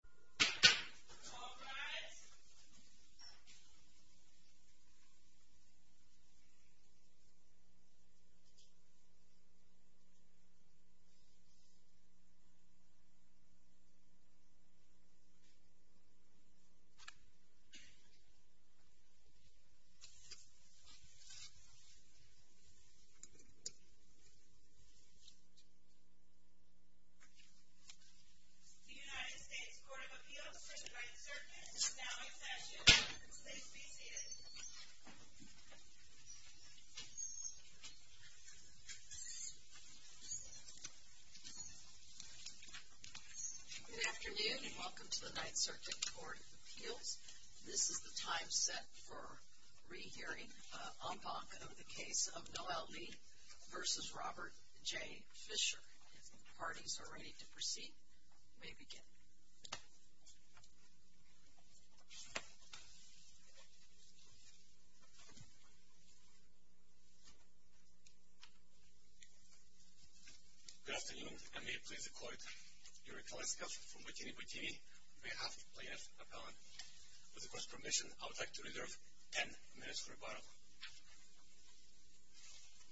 All rise. The United States Court of Appeals for the Right to Circumstance is now in session. Please be seated. Good afternoon and welcome to the Ninth Circuit Court of Appeals. This is the time set for rehearing en banc of the case of Noelle Lee v. Robert J. Fisher. If the parties are ready to proceed, we may begin. Good afternoon and may it please the Court. Yuri Kaliskov from Bikini Bikini on behalf of plaintiff appellant. With the Court's permission, I would like to reserve ten minutes for rebuttal.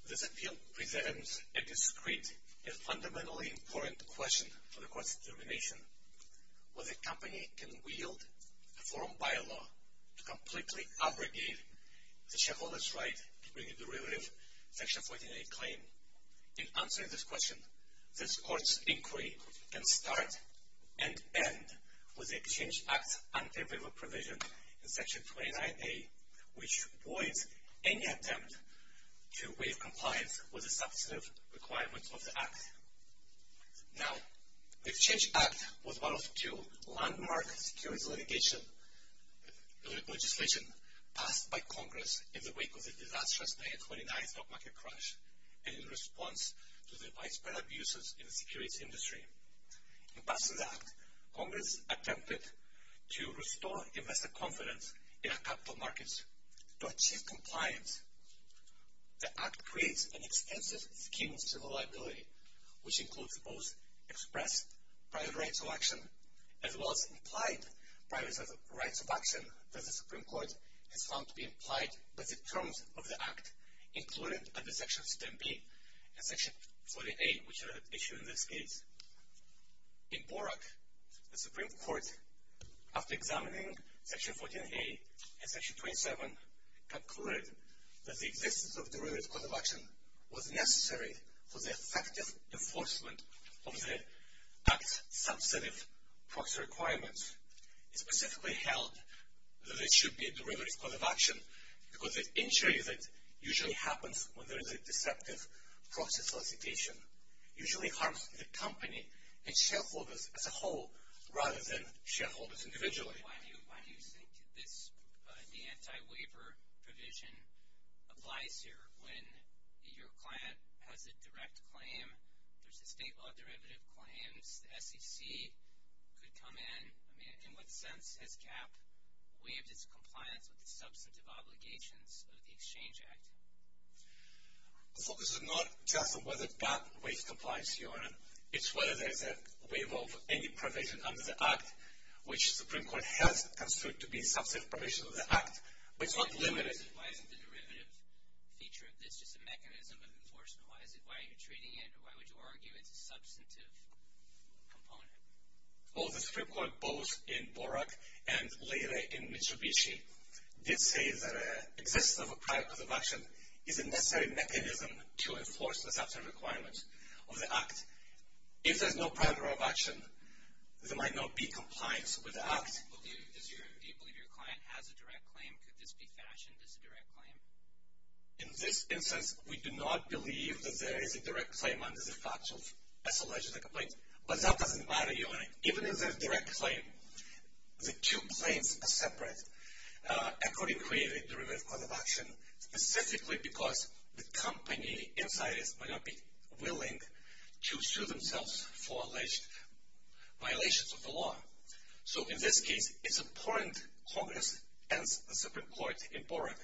This appeal presents a discrete and fundamentally important question for the Court's determination. Will the company can wield a forum by-law to completely abrogate the shareholders' right to bring a derivative Section 49A claim? In answering this question, this Court's inquiry can start and end with the Exchange Act's unpaid waiver provision in Section 49A, which voids any attempt to waive compliance with the substantive requirements of the Act. Now, the Exchange Act was one of two landmark securities legislation passed by Congress in the wake of the disastrous 1929 stock market crash and in response to the widespread abuses in the securities industry. In passing the Act, Congress attempted to restore investor confidence in our capital markets. To achieve compliance, the Act creates an extensive scheme to the liability, which includes both express private rights of action as well as implied private rights of action that the Supreme Court has found to be implied by the terms of the Act, included under Sections 10B and Section 49A, which are issued in this case. In Borak, the Supreme Court, after examining Section 49A and Section 27, concluded that the existence of a derivative cause of action was necessary for the effective enforcement of the Act's substantive proxy requirements. It specifically held that there should be a derivative cause of action because the injury that usually happens when there is a deceptive proxy solicitation usually harms the company and shareholders as a whole rather than shareholders individually. Why do you think the anti-waiver provision applies here when your client has a direct claim, there's a state law derivative claims, the SEC could come in? I mean, in what sense has GAAP waived its compliance with the substantive obligations of the Exchange Act? So this is not just whether GAAP waives compliance, Your Honor. It's whether there's a waiver of any provision under the Act, which the Supreme Court has construed to be a substantive provision of the Act, but it's not limited. Why isn't the derivative feature of this just a mechanism of enforcement? Why are you treating it, or why would you argue it's a substantive component? Well, the Supreme Court, both in Borak and later in Mitsubishi, did say that existence of a prior cause of action is a necessary mechanism to enforce the substantive requirements of the Act. If there's no prior cause of action, there might not be compliance with the Act. Well, do you believe your client has a direct claim? Could this be fashioned as a direct claim? In this instance, we do not believe that there is a direct claim under the facts of SLSA complaints, but that doesn't matter, Your Honor. Even if there's a direct claim, the two claims are separate, according to the derivative cause of action, specifically because the company inside it might not be willing to sue themselves for alleged violations of the law. So in this case, it's important Congress and the Supreme Court in Borak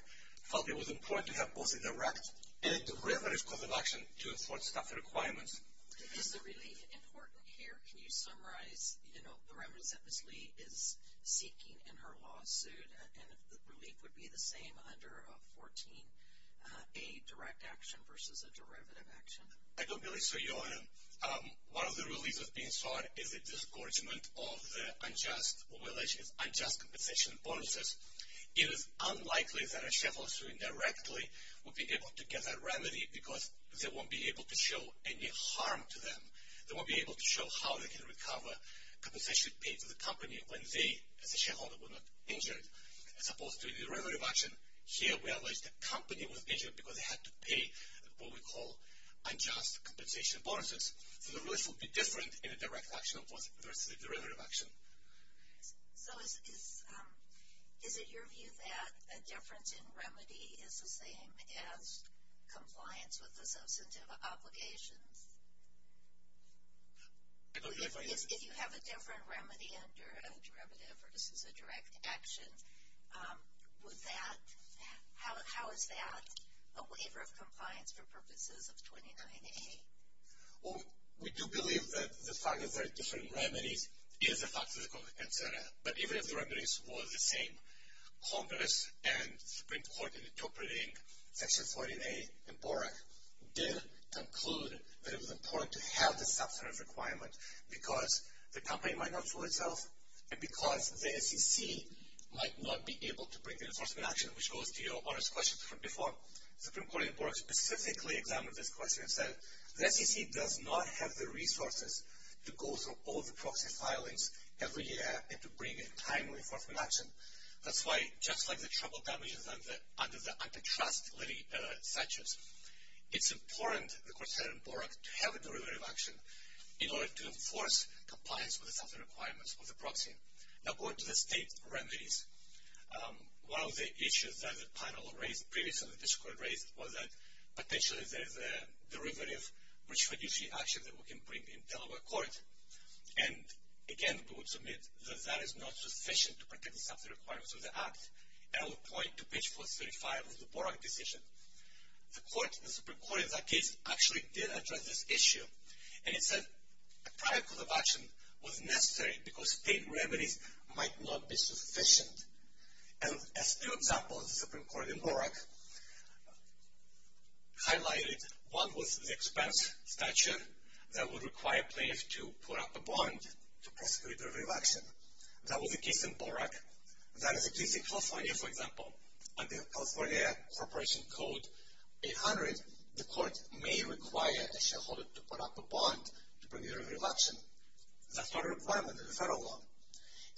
felt it was important to have both a direct and a derivative cause of action to enforce the requirements. Is the relief important here? Can you summarize the remedies that Ms. Lee is seeking in her lawsuit? And if the relief would be the same under 14, a direct action versus a derivative action? I don't believe so, Your Honor. One of the reliefs that's being sought is a discouragement of the unjust compensation bonuses. It is unlikely that a shuffler suing directly would be able to get that remedy because they won't be able to show any harm to them. They won't be able to show how they can recover compensation paid to the company when they, as a shareholder, were not injured. As opposed to a derivative action, here we allege the company was injured because they had to pay what we call unjust compensation bonuses. So the relief would be different in a direct action versus a derivative action. So is it your view that a difference in remedy is the same as compliance with the substantive obligations? If you have a different remedy under a derivative versus a direct action, would that, how is that a waiver of compliance for purposes of 29A? We do believe that the fact that there are different remedies is a fact of the court, etc., but even if the remedies were the same, Congress and the Supreme Court in interpreting Section 49A in BORAC did conclude that it was important to have the substantive requirement because the company might not fool itself and because the SEC might not be able to bring the enforcement action, which goes to Your Honor's question from before. The Supreme Court in BORAC specifically examined this question and said the SEC does not have the resources to go through all the proxy filings every year and to bring a timely enforcement action. That's why, just like the trouble damages under the antitrust litigation statute, it's important, the court said in BORAC, to have a derivative action in order to enforce compliance with the substantive requirements of the proxy. Now going to the state remedies, one of the issues that the panel raised, previously this court raised, was that potentially there is a derivative, which would use the action that we can bring in Delaware court. And again, we would submit that that is not sufficient to protect the substantive requirements of the act. And I would point to page 435 of the BORAC decision. The court, the Supreme Court in that case, actually did address this issue and it said a prior court of action was necessary because state remedies might not be sufficient. And as two examples, the Supreme Court in BORAC highlighted one was the expense statute that would require plaintiffs to put up a bond to prosecute a derivative action. That was the case in BORAC. That is the case in California, for example. Under California Corporation Code 800, the court may require a shareholder to put up a bond to bring a derivative action. That's not a requirement in the federal law.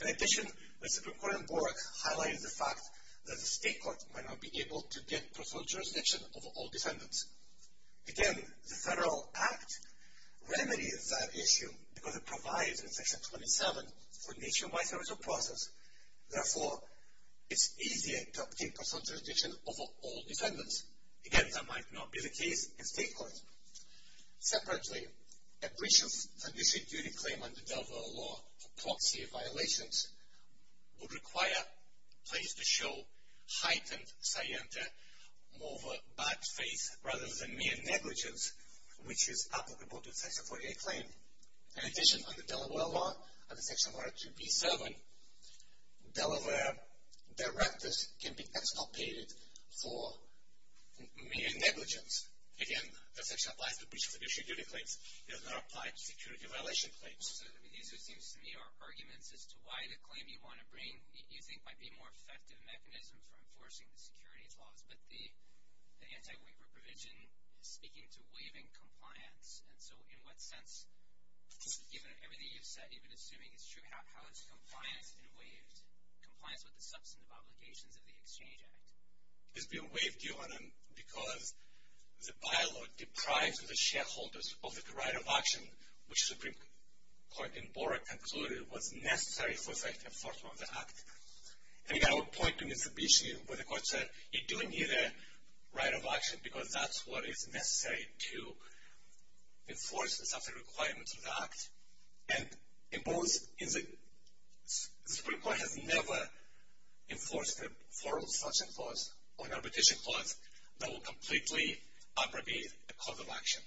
In addition, the Supreme Court in BORAC highlighted the fact that the state court might not be able to get procedural jurisdiction over all defendants. Again, the federal act remedies that issue because it provides in Section 27 for nationwide service of process. Therefore, it's easier to obtain procedural jurisdiction over all defendants. Again, that might not be the case in state court. Separately, a breach of fiduciary duty claim under Delaware law for proxy violations would require plaintiffs to show heightened scienta over bad faith rather than mere negligence, which is applicable to the Section 48 claim. In addition, under Delaware law, under Section 42B7, Delaware directors can be exculpated for mere negligence. Again, that's actually applies to breaches of fiduciary duty claims. It does not apply to security violation claims. So these, it seems to me, are arguments as to why the claim you want to bring, you think might be a more effective mechanism for enforcing the securities laws, but the anti-waiver provision is speaking to waiving compliance. And so in what sense, given everything you've said, even assuming it's true, how is compliance been waived, compliance with the substantive obligations of the Exchange Act? It's been waived, Johanan, because the bylaw deprives the shareholders of the right of action, which the Supreme Court in Bora concluded was necessary for the enforcement of the Act. And again, I would point to Mitsubishi, where the court said, you don't need a right of action because that's what is necessary to enforce the substantive requirements of the Act. And in both, the Supreme Court has never enforced a forum selection clause or an arbitration clause that will completely abrogate a cause of action.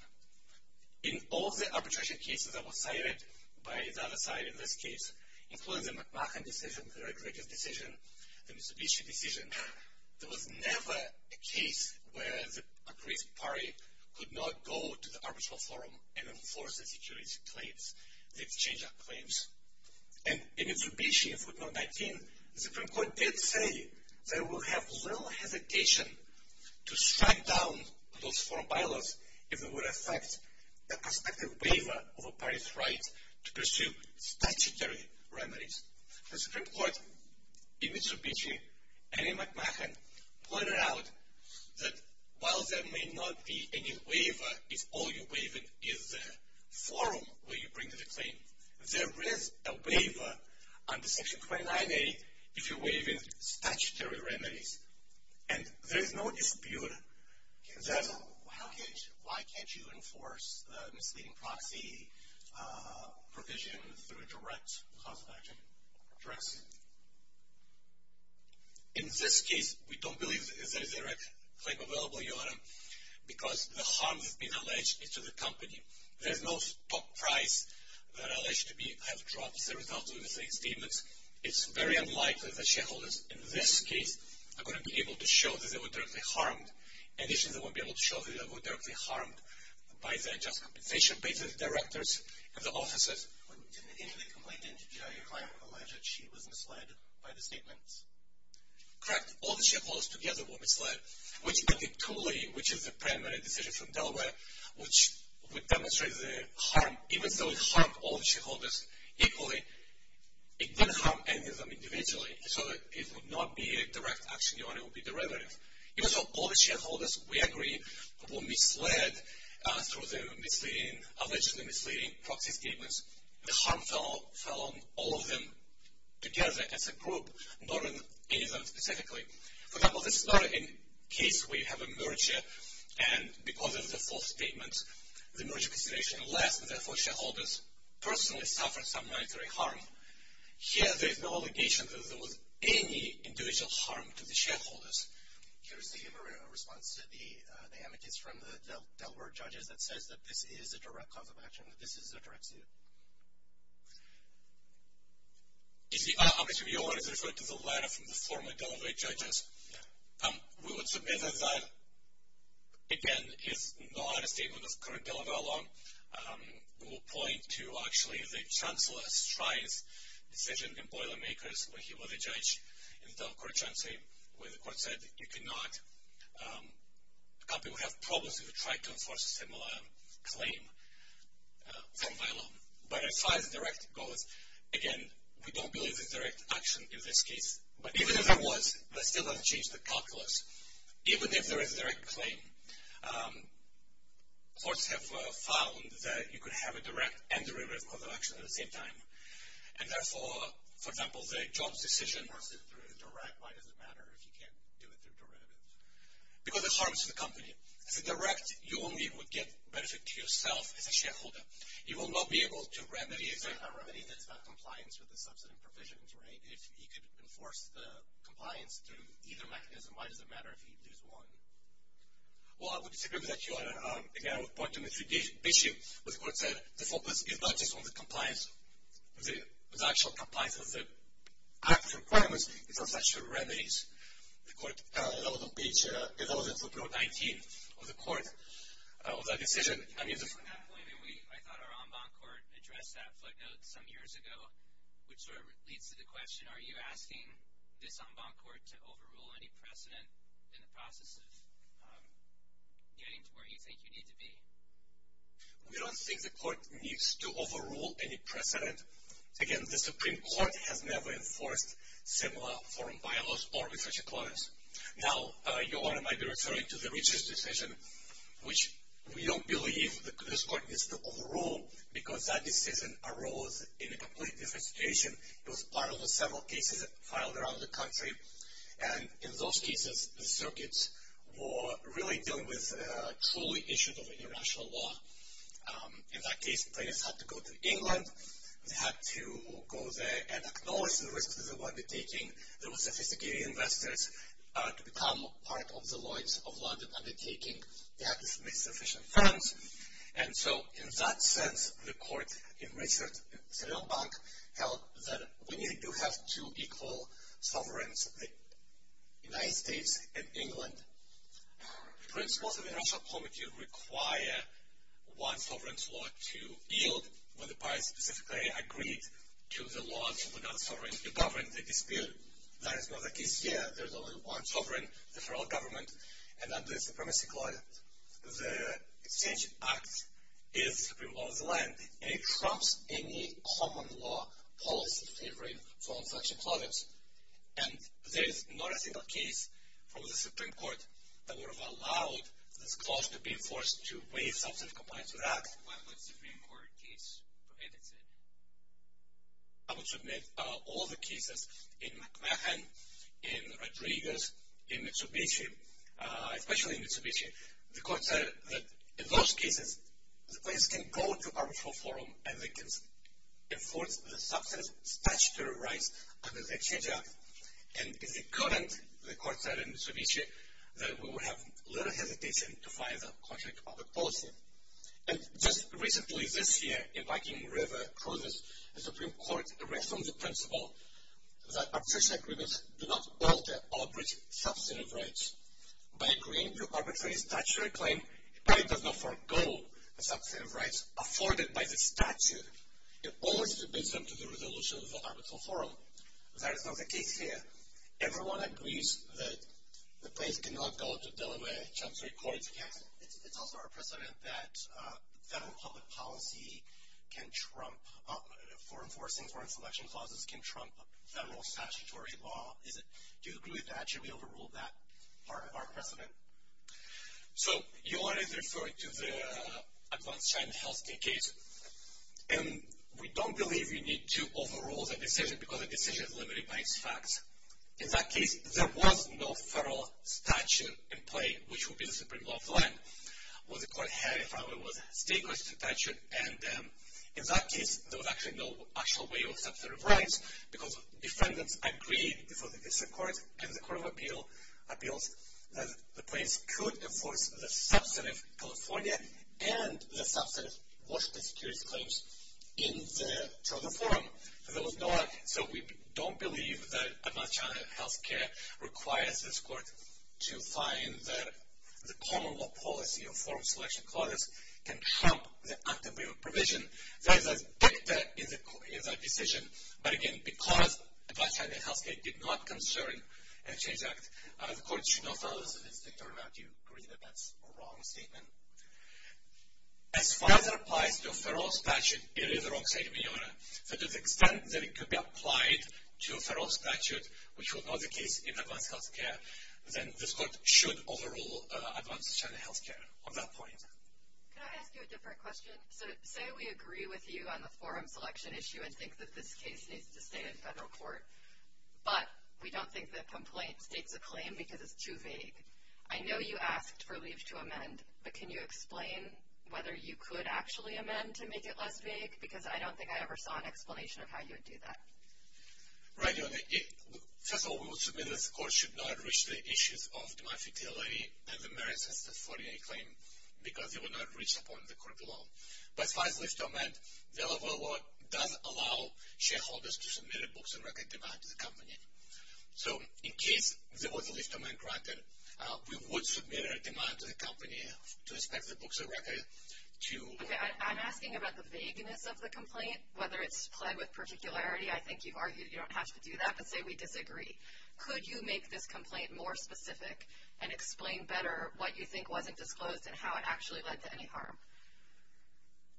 In all of the arbitration cases that were cited by the other side in this case, including the McMahon decision, the Rodriguez decision, the Mitsubishi decision, there was never a case where the appraised party could not go to the arbitral forum and enforce the security claims, the Exchange Act claims. And in Mitsubishi, in footnote 19, the Supreme Court did say they will have little hesitation to strike down those four bylaws if it would affect the prospective waiver of a party's right to pursue statutory remedies. The Supreme Court in Mitsubishi and in McMahon pointed out that while there may not be any waiver if all you're waiving is the forum where you bring the claim, there is a waiver under Section 29A if you're waiving statutory remedies. And there is no dispute that... Why can't you enforce the misleading proxy provision through direct cause of action? Rex? In this case, we don't believe that there is a direct claim available, Your Honor, because the harm that's been alleged is to the company. There's no top price that's alleged to have dropped as a result of the misleading statements. It's very unlikely that shareholders in this case are going to be able to show that they were directly harmed, and usually they won't be able to show that they were directly harmed by their just compensation based on the directors and the officers. But didn't any of the complainants who denied your claim allege that she was misled by the statements? Correct. All the shareholders together were misled, which, I think, totally, which is the primary decision from Delaware, which would demonstrate the harm. Even though it harmed all the shareholders equally, it didn't harm any of them individually, so it would not be a direct action. Your Honor, it would be derivative. Even so, all the shareholders, we agree, were misled through the allegedly misleading proxy statements. The harm fell on all of them together as a group, not on any of them specifically. For example, this is not a case where you have a merger, and because of the false statement, the merger consideration less, and therefore shareholders personally suffered some monetary harm. Here, there's no allegation that there was any individual harm to the shareholders. Here's the response to the amicus from the Delaware judges that says that this is a direct cause of action, that this is a direct suit. You see, obviously, we always refer to the letter from the former Delaware judges. We would submit that that, again, is not a statement of current Delaware law. We will point to, actually, the Chancellor Stride's decision in Boilermakers, where he was a judge in the Delaware court of transparency, where the court said, you cannot have problems if you try to enforce a similar claim from bylaw. But as far as direct goes, again, we don't believe it's direct action in this case. But even if it was, that still doesn't change the calculus. Even if there is a direct claim, courts have found that you could have a direct and a direct cause of action at the same time. And therefore, for example, the Jones decision. Why is it direct? Why does it matter if you can't do it through direct? Because it harms the company. As a direct, you only would get benefit to yourself as a shareholder. You will not be able to remedy a remedy that's about compliance with the subsidy provisions, right? If you could enforce the compliance through either mechanism, why does it matter if you lose one? Well, I would disagree with that, too. Again, I would point to Mitsubishi, where the court said the focus is not just on the compliance, the actual compliance of the act requirements, it's on such remedies. The court, that was in footnote 19 of the court, of that decision. From that point, I thought our en banc court addressed that footnote some years ago, which sort of leads to the question, are you asking this en banc court to overrule any precedent in the process of getting to where you think you need to be? We don't think the court needs to overrule any precedent. Again, the Supreme Court has never enforced similar forum bylaws or research declares. Now, your Honor might be referring to the Richards decision, which we don't believe this court needs to overrule because that decision arose in a completely different situation. It was part of the several cases filed around the country. And in those cases, the circuits were really dealing with truly issues of international law. In that case, plaintiffs had to go to England. They had to go there and acknowledge the risks of undertaking. There were sophisticated investors to become part of the loins of London undertaking. They had to submit sufficient funds. And so, in that sense, the court in Richards' en banc held that when you do have two equal sovereigns, the United States and England, principles of the international committee require one sovereign's law to yield. So, when the parties specifically agreed to the laws without sovereigns to govern the dispute, that is not the case here. There's only one sovereign, the federal government. And under the Supremacy Clause, the exchange act is the supreme law of the land. And it trumps any common law policy favoring foreign selection clauses. And there is not a single case from the Supreme Court that would have allowed this clause to be enforced to waive substantive compliance with the act. What would a Supreme Court case prohibit, Sid? I would submit all the cases in McMahon, in Rodriguez, in Mitsubishi, especially in Mitsubishi. The court said that in those cases, the plaintiffs can go to arbitral forum and they can enforce the substantive statutory rights under the exchange act. And it's the current, the court said in Mitsubishi, that we would have little hesitation to fire the contract of the policy. And just recently, this year, in Viking River, clauses of the Supreme Court rest on the principle that arbitration agreements do not alter or breach substantive rights. By agreeing to arbitrary statutory claim, the plaintiff does not forego the substantive rights afforded by the statute. It always submits them to the resolution of the arbitral forum. That is not the case here. Everyone agrees that the plaintiffs cannot go to Delaware Chamber of Records. It's also our precedent that federal public policy can trump, for enforcing foreign selection clauses, can trump federal statutory law. Do you agree with that? Should we overrule that part of our precedent? So, you already referred to the advanced China health care case. And we don't believe you need to overrule the decision because the decision is limited by its facts. In that case, there was no federal statute in play, which would be the Supreme Law of the land. What the court had in front of it was a state-questioned statute. And in that case, there was actually no actual way of substantive rights because defendants agreed before the District Court and the Court of Appeals that the plaintiffs could enforce the substantive California and the substantive Washington security claims in the China forum. So, we don't believe that advanced China health care requires this court to find that the common law policy of foreign selection clauses can trump the active waiver provision. That is a factor in that decision. But again, because advanced China health care did not concern a change act, the court should not follow this as an instinct. Or do you agree that that's a wrong statement? As far as it applies to a federal statute, it is a wrong statement, Your Honor. To the extent that it could be applied to a federal statute, which would not be the case in advanced health care, then this court should overrule advanced China health care on that point. Can I ask you a different question? Say we agree with you on the forum selection issue and think that this case needs to stay in federal court, but we don't think the complaint states a claim because it's too vague. I know you asked for leave to amend, but can you explain whether you could actually amend to make it less vague? Because I don't think I ever saw an explanation of how you would do that. Right, Your Honor. First of all, we would submit that the court should not reach the issues of demand futility and the merits of the 48 claim because it would not reach upon the court alone. But as far as leave to amend, the level of law does allow shareholders to submit a books of record demand to the company. So in case there was a leave to amend granted, we would submit a demand to the company to inspect the books of record. Okay, I'm asking about the vagueness of the complaint, whether it's plagued with particularity. I think you've argued you don't have to do that, but say we disagree. Could you make this complaint more specific and explain better what you think wasn't disclosed and how it actually led to any harm?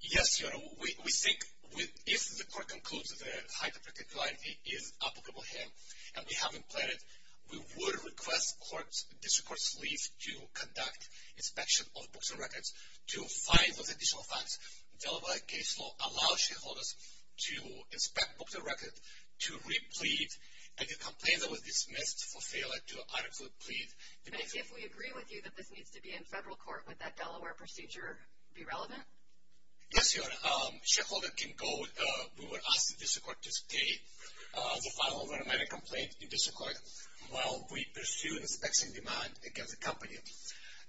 Yes, Your Honor. We think if the court concludes that the height of particularity is applicable here and we haven't planned it, we would request the district court's leave to conduct inspection of books of records to find those additional fines. Delaware case law allows shareholders to inspect books of record, to re-plead any complaint that was dismissed for failure to adequately plead. But if we agree with you that this needs to be in federal court, would that Delaware procedure be relevant? Yes, Your Honor. If the shareholder can go, we would ask the district court to stay the file of an amended complaint in district court while we pursue inspection demand against the company.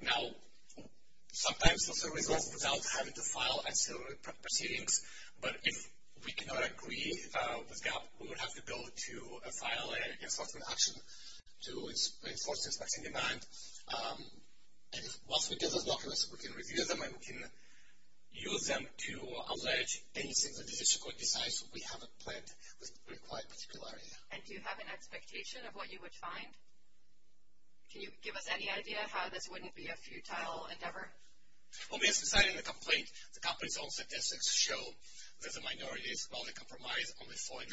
Now, sometimes there's a result without having to file a civil proceedings, but if we cannot agree with GAAP, we would have to go to a filing and enforcement action to enforce the inspection demand. Once we get those documents, we can review them and we can use them to allege anything the district court decides we haven't planned with required particularity. And do you have an expectation of what you would find? Can you give us any idea how this wouldn't be a futile endeavor? When we were deciding the complaint, the company's own statistics show that the minorities, while they compromise only 49%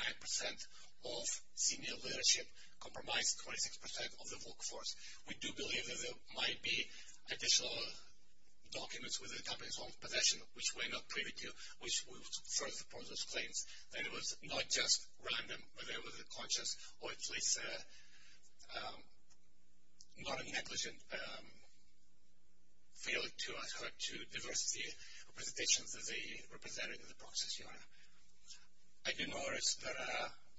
of senior leadership, compromise 26% of the workforce. We do believe that there might be additional documents with the company's own possession, which we're not privy to, which would further support those claims. And it was not just random, but there was a conscious or at least non-negligent feeling to us or to diversity representations that they represented in the process, Your Honor. I didn't notice that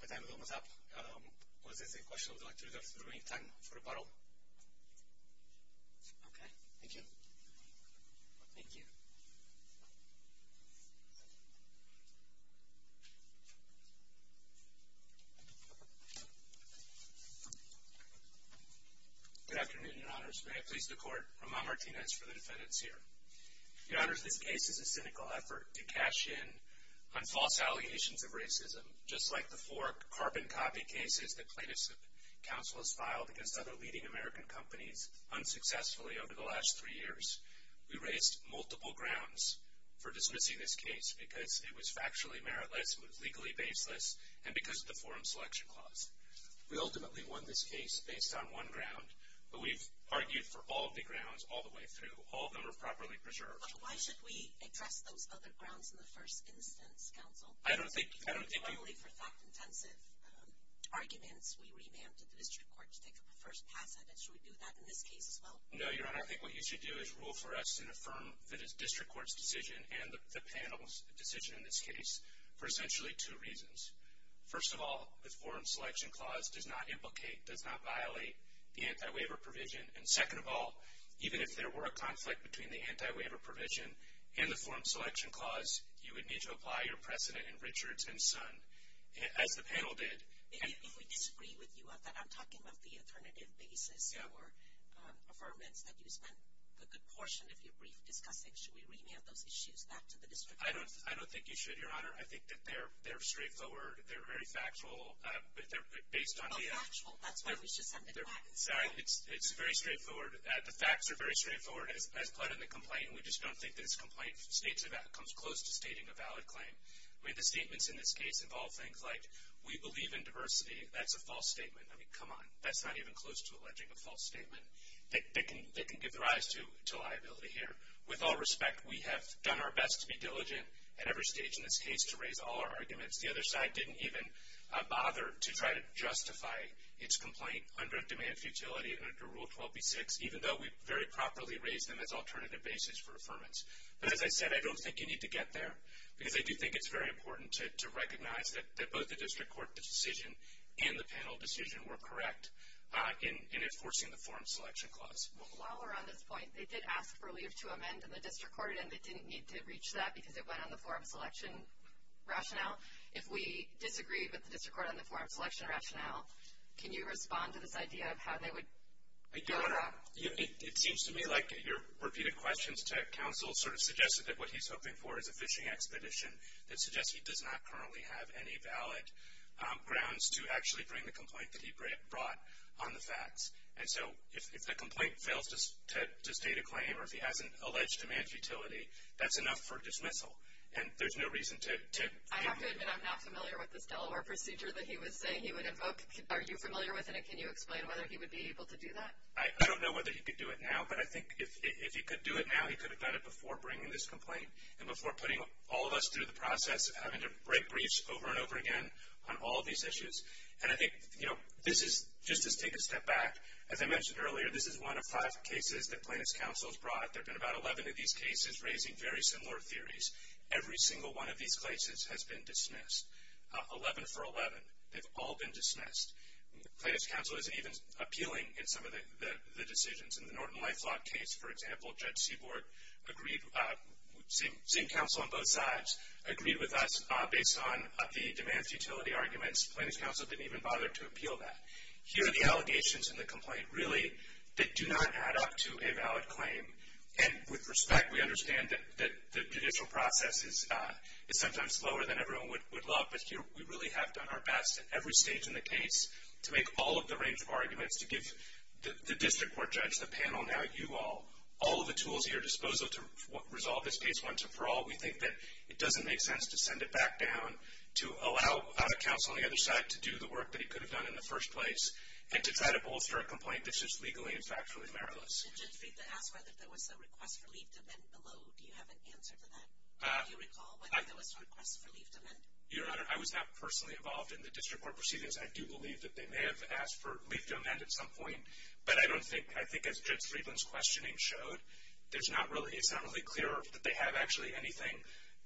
my time was almost up. Was this a question I would like to reserve for any time for rebuttal? Okay, thank you. Thank you. Good afternoon, Your Honors. May I please the court? Ramon Martinez for the defendants here. Your Honors, this case is a cynical effort to cash in on false allegations of racism, just like the four carbon copy cases that plaintiffs' counsel has filed against other leading American companies unsuccessfully over the last three years. We raised multiple grounds for dismissing this case because it was factually meritless, it was legally baseless, and because of the forum selection clause. We ultimately won this case based on one ground, but we've argued for all of the grounds all the way through. All of them are properly preserved. But why should we address those other grounds in the first instance, counsel? I don't think... I don't think you... If we're going for fact-intensive arguments, we remanded the district court to take a first pass at it. Should we do that in this case as well? No, Your Honor. I think what you should do is rule for us and affirm the district court's decision and the panel's decision in this case for essentially two reasons. First of all, this forum selection clause does not implicate, does not violate the anti-waiver provision. And second of all, even if there were a conflict between the anti-waiver provision and the forum selection clause, you would need to apply your precedent in Richards and Son. As the panel did... If we disagree with you, I'm talking about the alternative basis or affirmance that you spent a good portion of your brief discussing. Should we remand those issues back to the district court? I don't think you should, Your Honor. I think that they're straightforward. They're very factual. Based on the... Well, factual. That's why we should send it back. Sorry. It's very straightforward. The facts are very straightforward as pled in the complaint. We just don't think that this complaint comes close to stating a valid claim. I mean, the statements in this case involve things like, we believe in diversity. That's a false statement. I mean, come on. That's not even close to alleging a false statement. They can give the rise to liability here. With all respect, we have done our best to be diligent at every stage in this case to raise all our arguments. The other side didn't even bother to try to justify its complaint under a demand for utility under Rule 12b-6, even though we very properly raised them as alternative basis for affirmance. But as I said, I don't think you need to get there, because I do think it's very important to recognize that both the district court decision and the panel decision were correct in enforcing the forum selection clause. Well, while we're on this point, they did ask for leave to amend, and the district court did, but it didn't need to reach that because it went on the forum selection rationale. If we disagree with the district court on the forum selection rationale, can you respond to this idea of how they would go about it? It seems to me like your repeated questions to counsel sort of suggested that what he's hoping for is a fishing expedition that suggests he does not currently have any valid grounds to actually bring the complaint that he brought on the facts. And so if the complaint fails to state a claim or if he hasn't alleged demand for utility, that's enough for dismissal. And there's no reason to— I have to admit I'm not familiar with this Delaware procedure that he was saying he would invoke. Are you familiar with it, and can you explain whether he would be able to do that? I don't know whether he could do it now, but I think if he could do it now, he could have done it before bringing this complaint and before putting all of us through the process of having to write briefs over and over again on all of these issues. And I think, you know, just to take a step back, as I mentioned earlier, this is one of five cases that plaintiff's counsel has brought. There have been about 11 of these cases raising very similar theories. Every single one of these cases has been dismissed, 11 for 11. They've all been dismissed. Plaintiff's counsel isn't even appealing in some of the decisions. In the Norton-Lifelock case, for example, Judge Seabort, same counsel on both sides, agreed with us based on the demands utility arguments. Plaintiff's counsel didn't even bother to appeal that. Here are the allegations in the complaint, really, that do not add up to a valid claim. And with respect, we understand that the judicial process is sometimes slower than everyone would love, but here we really have done our best at every stage in the case to make all of the range of arguments, to give the district court judge, the panel, now you all, all of the tools at your disposal to resolve this case once and for all. We think that it doesn't make sense to send it back down, to allow counsel on the other side to do the work that he could have done in the first place, and to try to bolster a complaint that's just legally and factually meritless. Judge Friedland asked whether there was a request for leave to amend below. Do you have an answer to that? Do you recall whether there was a request for leave to amend? Your Honor, I was not personally involved in the district court proceedings. I do believe that they may have asked for leave to amend at some point, but I don't think, I think as Judge Friedland's questioning showed, it's not really clear that they have actually anything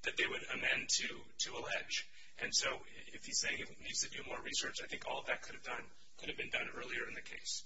that they would amend to allege, and so if he's saying he needs to do more research, I think all of that could have been done earlier in the case.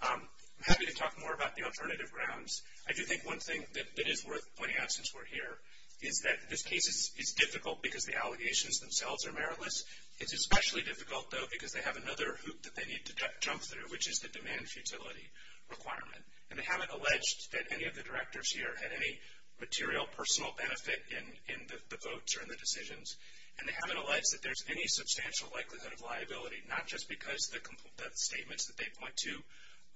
I'm happy to talk more about the alternative grounds. I do think one thing that is worth pointing out since we're here is that this case is difficult because the allegations themselves are meritless. It's especially difficult, though, because they have another hoop that they need to jump through, which is the demand futility requirement, and they haven't alleged that any of the directors here had any material personal benefit in the votes or in the decisions, and they haven't alleged that there's any substantial likelihood of liability, not just because the statements that they point to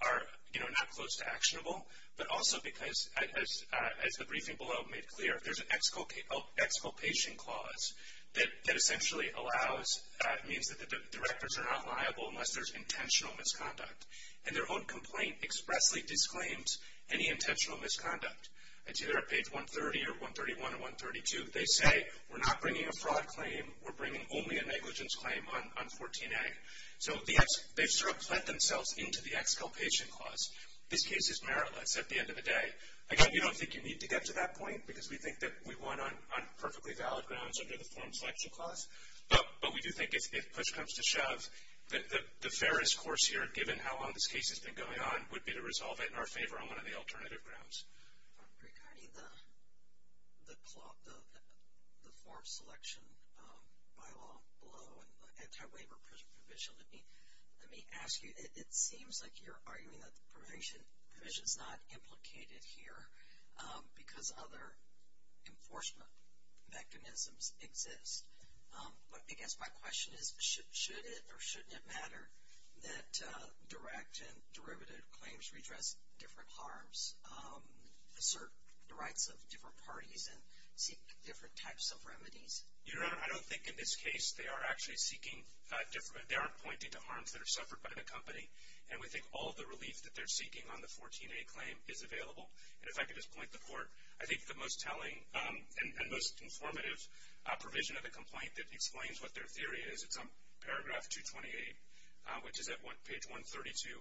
are, you know, not close to actionable, but also because, as the briefing below made clear, there's an exculpation clause that essentially allows, means that the directors are not liable unless there's intentional misconduct, and their own complaint expressly disclaims any intentional misconduct. It's either at page 130 or 131 or 132. They say, we're not bringing a fraud claim. We're bringing only a negligence claim on 14A. So they've sort of planted themselves into the exculpation clause. This case is meritless at the end of the day. Again, we don't think you need to get to that point because we think that we won on perfectly valid grounds under the form selection clause, but we do think if push comes to shove, the fairest course here, given how long this case has been going on, would be to resolve it in our favor on one of the alternative grounds. Regarding the form selection bylaw below and the anti-waiver provision, let me ask you, it seems like you're arguing that the provision is not implicated here because other enforcement mechanisms exist. But I guess my question is, should it or shouldn't it matter that direct and derivative claims redress different harms, assert the rights of different parties, and seek different types of remedies? Your Honor, I don't think in this case they are actually seeking different— they aren't pointing to harms that are suffered by the company. And we think all the relief that they're seeking on the 14A claim is available. And if I could just point them forward, I think the most telling and most informative provision of the complaint that explains what their theory is, it's on paragraph 228, which is at page 132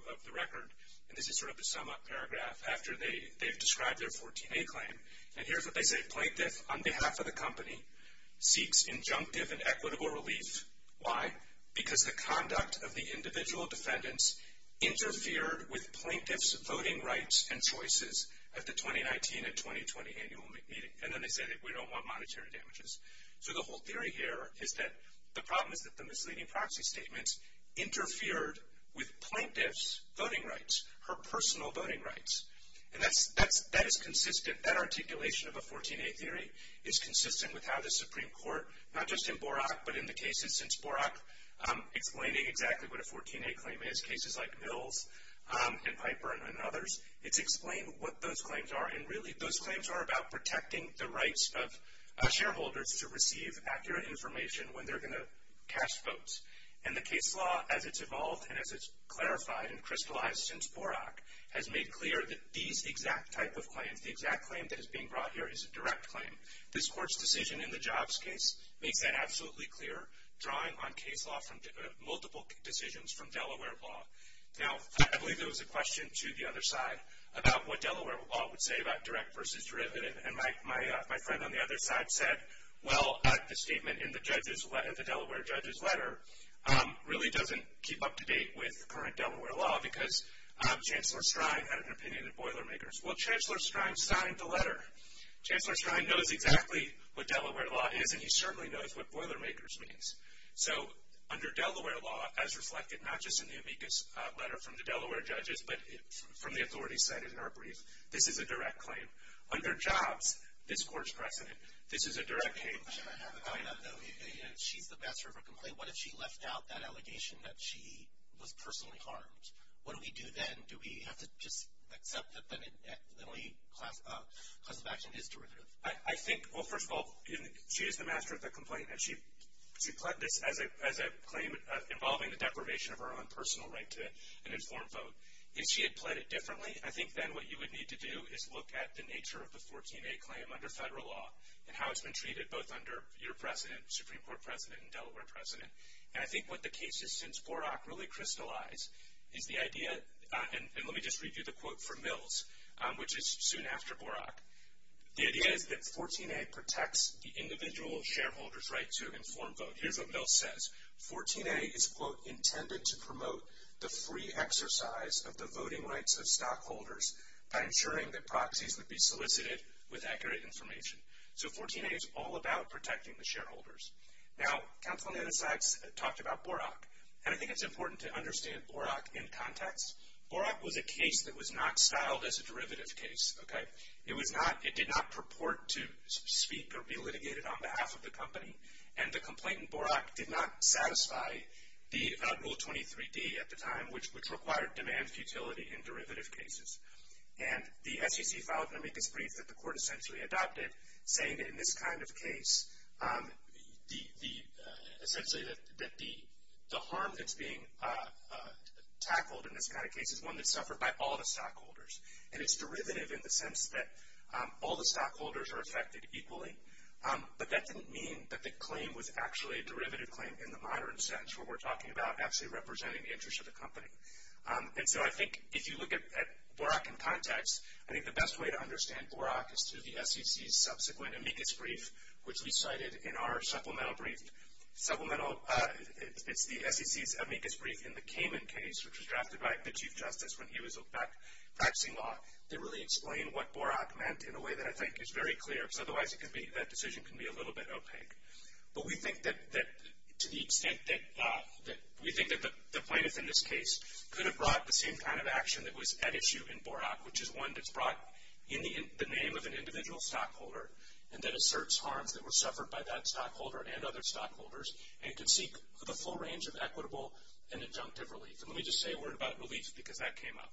of the record. And this is sort of the sum-up paragraph after they've described their 14A claim. And here's what they say. Plaintiff, on behalf of the company, seeks injunctive and equitable relief. Why? Because the conduct of the individual defendants interfered with plaintiff's voting rights and choices at the 2019 and 2020 annual meeting. And then they say that we don't want monetary damages. So the whole theory here is that the problem is that the misleading proxy statements interfered with plaintiff's voting rights, her personal voting rights. And that is consistent. That articulation of a 14A theory is consistent with how the Supreme Court, not just in Borak but in the cases since Borak, explaining exactly what a 14A claim is, in cases like Mills and Piper and others, it's explained what those claims are. And, really, those claims are about protecting the rights of shareholders to receive accurate information when they're going to cast votes. And the case law, as it's evolved and as it's clarified and crystallized since Borak, has made clear that these exact type of claims, the exact claim that is being brought here is a direct claim. This Court's decision in the Jobs case makes that absolutely clear, drawing on case law from multiple decisions from Delaware law. Now, I believe there was a question to the other side about what Delaware law would say about direct versus derivative. And my friend on the other side said, well, the statement in the Delaware judge's letter really doesn't keep up to date with current Delaware law because Chancellor Strine had an opinion in Boilermakers. Well, Chancellor Strine signed the letter. Chancellor Strine knows exactly what Delaware law is, and he certainly knows what Boilermakers means. So, under Delaware law, as reflected not just in the amicus letter from the Delaware judges, but from the authorities cited in our brief, this is a direct claim. Under Jobs, this Court's precedent, this is a direct claim. She's the master of her complaint. What if she left out that allegation that she was personally harmed? What do we do then? Do we have to just accept that the only class of action is derivative? I think, well, first of all, she is the master of the complaint. She pled this as a claim involving the deprivation of her own personal right to an informed vote. If she had pled it differently, I think then what you would need to do is look at the nature of the 14A claim under federal law and how it's been treated both under your precedent, Supreme Court precedent, and Delaware precedent. And I think what the cases since Borak really crystallize is the idea that, and let me just read you the quote from Mills, which is soon after Borak. The idea is that 14A protects the individual shareholder's right to an informed vote. Here's what Mills says. 14A is, quote, intended to promote the free exercise of the voting rights of stockholders by ensuring that proxies would be solicited with accurate information. So, 14A is all about protecting the shareholders. Now, counsel on the other side talked about Borak, and I think it's important to understand Borak in context. Borak was a case that was not styled as a derivative case, okay? It was not, it did not purport to speak or be litigated on behalf of the company, and the complaint in Borak did not satisfy the rule 23D at the time, which required demand futility in derivative cases. And the SEC filed an amicus brief that the court essentially adopted, saying that in this kind of case, essentially that the harm that's being tackled in this kind of case is one that's suffered by all the stockholders, and it's derivative in the sense that all the stockholders are affected equally. But that didn't mean that the claim was actually a derivative claim in the modern sense, where we're talking about actually representing the interest of the company. And so I think if you look at Borak in context, I think the best way to understand Borak is through the SEC's subsequent amicus brief, which we cited in our supplemental brief. It's the SEC's amicus brief in the Kamen case, which was drafted by the Chief Justice when he was practicing law, that really explained what Borak meant in a way that I think is very clear, because otherwise that decision can be a little bit opaque. But we think that to the extent that we think that the plaintiff in this case could have brought the same kind of action that was at issue in Borak, which is one that's brought in the name of an individual stockholder, and that asserts harms that were suffered by that stockholder and other stockholders, and could seek the full range of equitable and injunctive relief. And let me just say a word about relief, because that came up.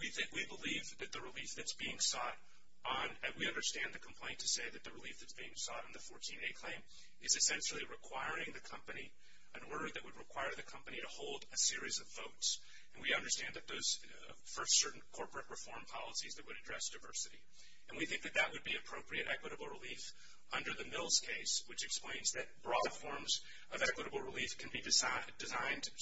We believe that the relief that's being sought on, and we understand the complaint to say that the relief that's being sought on the 14A claim is essentially requiring the company, an order that would require the company to hold a series of votes. And we understand that those first certain corporate reform policies that would address diversity. And we think that that would be appropriate equitable relief under the Mills case, which explains that broad forms of equitable relief can be designed to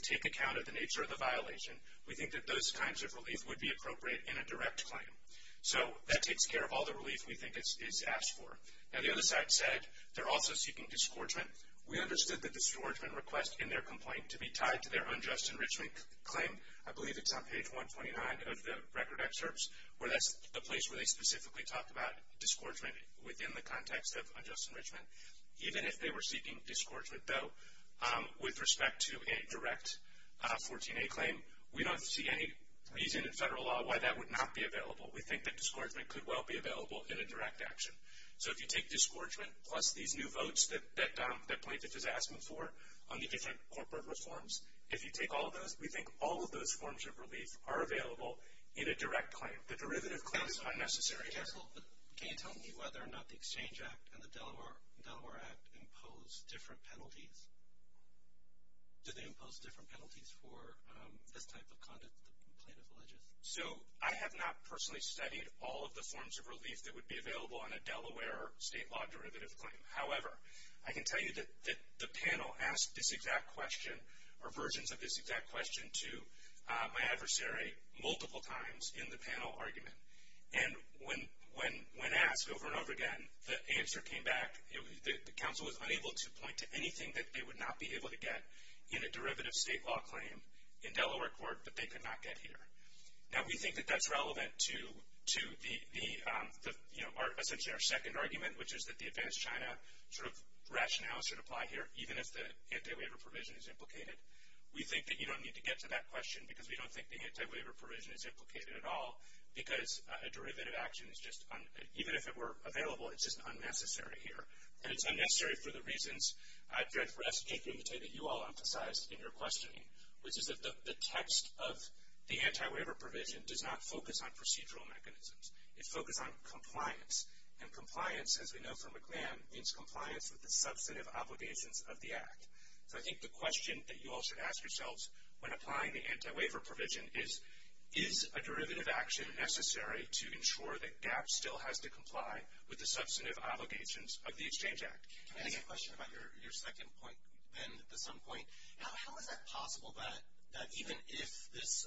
take account of the nature of the violation. We think that those kinds of relief would be appropriate in a direct claim. So that takes care of all the relief we think is asked for. Now, the other side said they're also seeking disgorgement. We understood the disgorgement request in their complaint to be tied to their unjust enrichment claim. I believe it's on page 129 of the record excerpts, where that's the place where they specifically talk about disgorgement within the context of unjust enrichment. Even if they were seeking disgorgement, though, with respect to a direct 14A claim, we don't see any reason in federal law why that would not be available. We think that disgorgement could well be available in a direct action. So if you take disgorgement plus these new votes that plaintiff has asked them for on the different corporate reforms, if you take all of those, we think all of those forms of relief are available in a direct claim. The derivative claim is unnecessary. Can you tell me whether or not the Exchange Act and the Delaware Act impose different penalties? Do they impose different penalties for this type of conduct, the plaintiff alleges? So I have not personally studied all of the forms of relief that would be available on a Delaware state law derivative claim. However, I can tell you that the panel asked this exact question or versions of this exact question to my adversary multiple times in the panel argument. And when asked over and over again, the answer came back. The counsel was unable to point to anything that they would not be able to get in a derivative state law claim in Delaware court, but they could not get here. Now, we think that that's relevant to the, you know, essentially our second argument, which is that the advanced China sort of rationale should apply here, even if the anti-waiver provision is implicated. We think that you don't need to get to that question because we don't think the anti-waiver provision is implicated at all because a derivative action is just un- even if it were available, it's just unnecessary here. And it's unnecessary for the reasons, Judge Rest, that you all emphasized in your questioning, which is that the text of the anti-waiver provision does not focus on procedural mechanisms. It focuses on compliance. And compliance, as we know from McGlann, means compliance with the substantive obligations of the Act. So I think the question that you all should ask yourselves when applying the anti-waiver provision is, is a derivative action necessary to ensure that GAP still has to comply with the substantive obligations of the Exchange Act? Can I ask a question about your second point, Ben, the sum point? How is that possible that even if this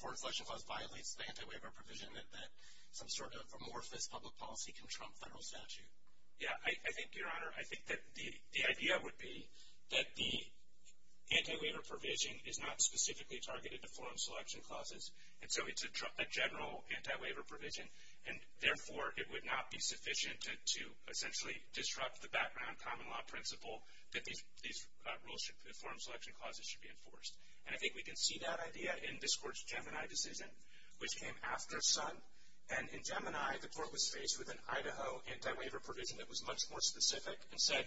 foreign selection clause violates the anti-waiver provision, that some sort of amorphous public policy can trump federal statute? Yeah, I think, Your Honor, I think that the idea would be that the anti-waiver provision is not specifically targeted to foreign selection clauses, and so it's a general anti-waiver provision, and therefore it would not be sufficient to essentially disrupt the background common law principle that these rules, foreign selection clauses, should be enforced. And I think we can see that idea in this Court's Gemini decision, which came after Sun. And in Gemini, the Court was faced with an Idaho anti-waiver provision that was much more specific and said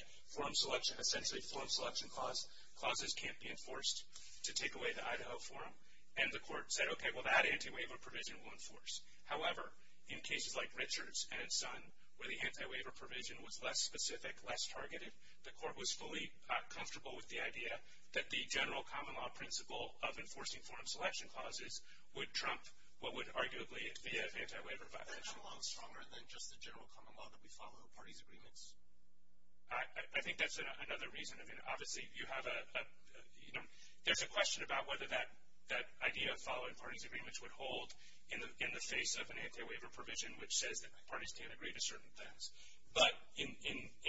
essentially foreign selection clauses can't be enforced to take away the Idaho forum. And the Court said, okay, well, that anti-waiver provision will enforce. However, in cases like Richards and Sun, where the anti-waiver provision was less specific, less targeted, the Court was fully comfortable with the idea that the general common law principle of enforcing foreign selection clauses would trump what would arguably be an anti-waiver provision. Is that common law stronger than just the general common law that we follow in parties' agreements? I think that's another reason. I mean, obviously, you have a, you know, there's a question about whether that idea of following parties' agreements would hold in the face of an anti-waiver provision, which says that parties can't agree to certain things. But in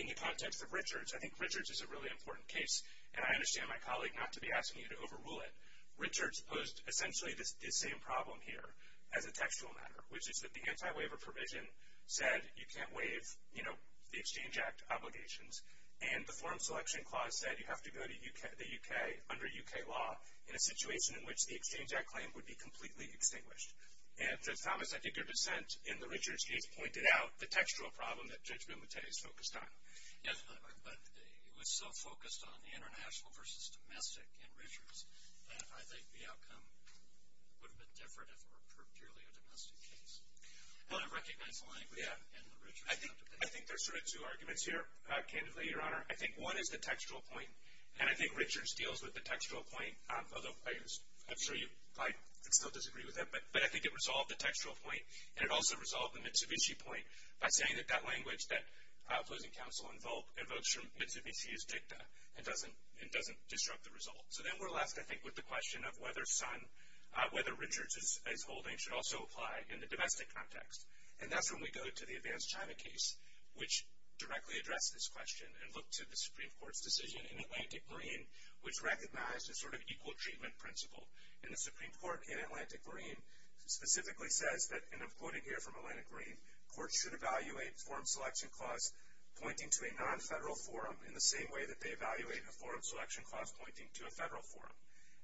the context of Richards, I think Richards is a really important case. And I understand my colleague not to be asking you to overrule it. Richards posed essentially this same problem here as a textual matter, which is that the anti-waiver provision said you can't waive, you know, the Exchange Act obligations. And the foreign selection clause said you have to go to the U.K. under U.K. law in a situation in which the Exchange Act claim would be completely extinguished. And, Judge Thomas, I think your dissent in the Richards case pointed out the textual problem that Judge Bumate is focused on. Yes, but it was so focused on international versus domestic in Richards that I think the outcome would have been different if it were purely a domestic case. Well, I recognize the language in the Richards case. I think there's sort of two arguments here, candidly, Your Honor. I think one is the textual point, and I think Richards deals with the textual point, although I'm sure you might still disagree with that. But I think it resolved the textual point, and it also resolved the Mitsubishi point by saying that that language that opposing counsel invokes from Mitsubishi is jigta and doesn't disrupt the result. So then we're left, I think, with the question of whether Richards' holding should also apply in the domestic context. And that's when we go to the Advanced China case, which directly addressed this question and looked to the Supreme Court's decision in Atlantic Marine, which recognized a sort of equal treatment principle. And the Supreme Court in Atlantic Marine specifically says that, and I'm quoting here from Atlantic Marine, courts should evaluate forum selection clause pointing to a non-federal forum in the same way that they evaluate a forum selection clause pointing to a federal forum.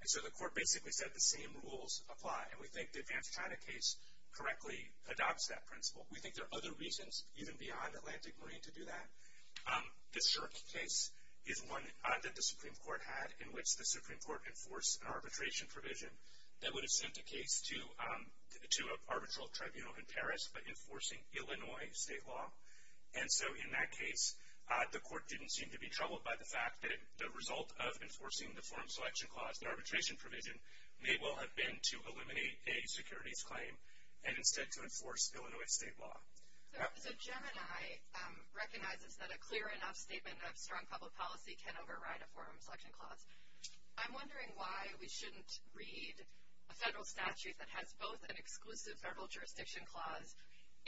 And so the court basically said the same rules apply, and we think the Advanced China case correctly adopts that principle. We think there are other reasons, even beyond Atlantic Marine, to do that. The Shirk case is one that the Supreme Court had in which the Supreme Court enforced an arbitration provision that would have sent a case to an arbitral tribunal in Paris, but enforcing Illinois state law. And so in that case, the court didn't seem to be troubled by the fact that the result of enforcing the forum selection clause, the arbitration provision, may well have been to eliminate a securities claim, and instead to enforce Illinois state law. So Gemini recognizes that a clear enough statement of strong public policy can override a forum selection clause. I'm wondering why we shouldn't read a federal statute that has both an exclusive federal jurisdiction clause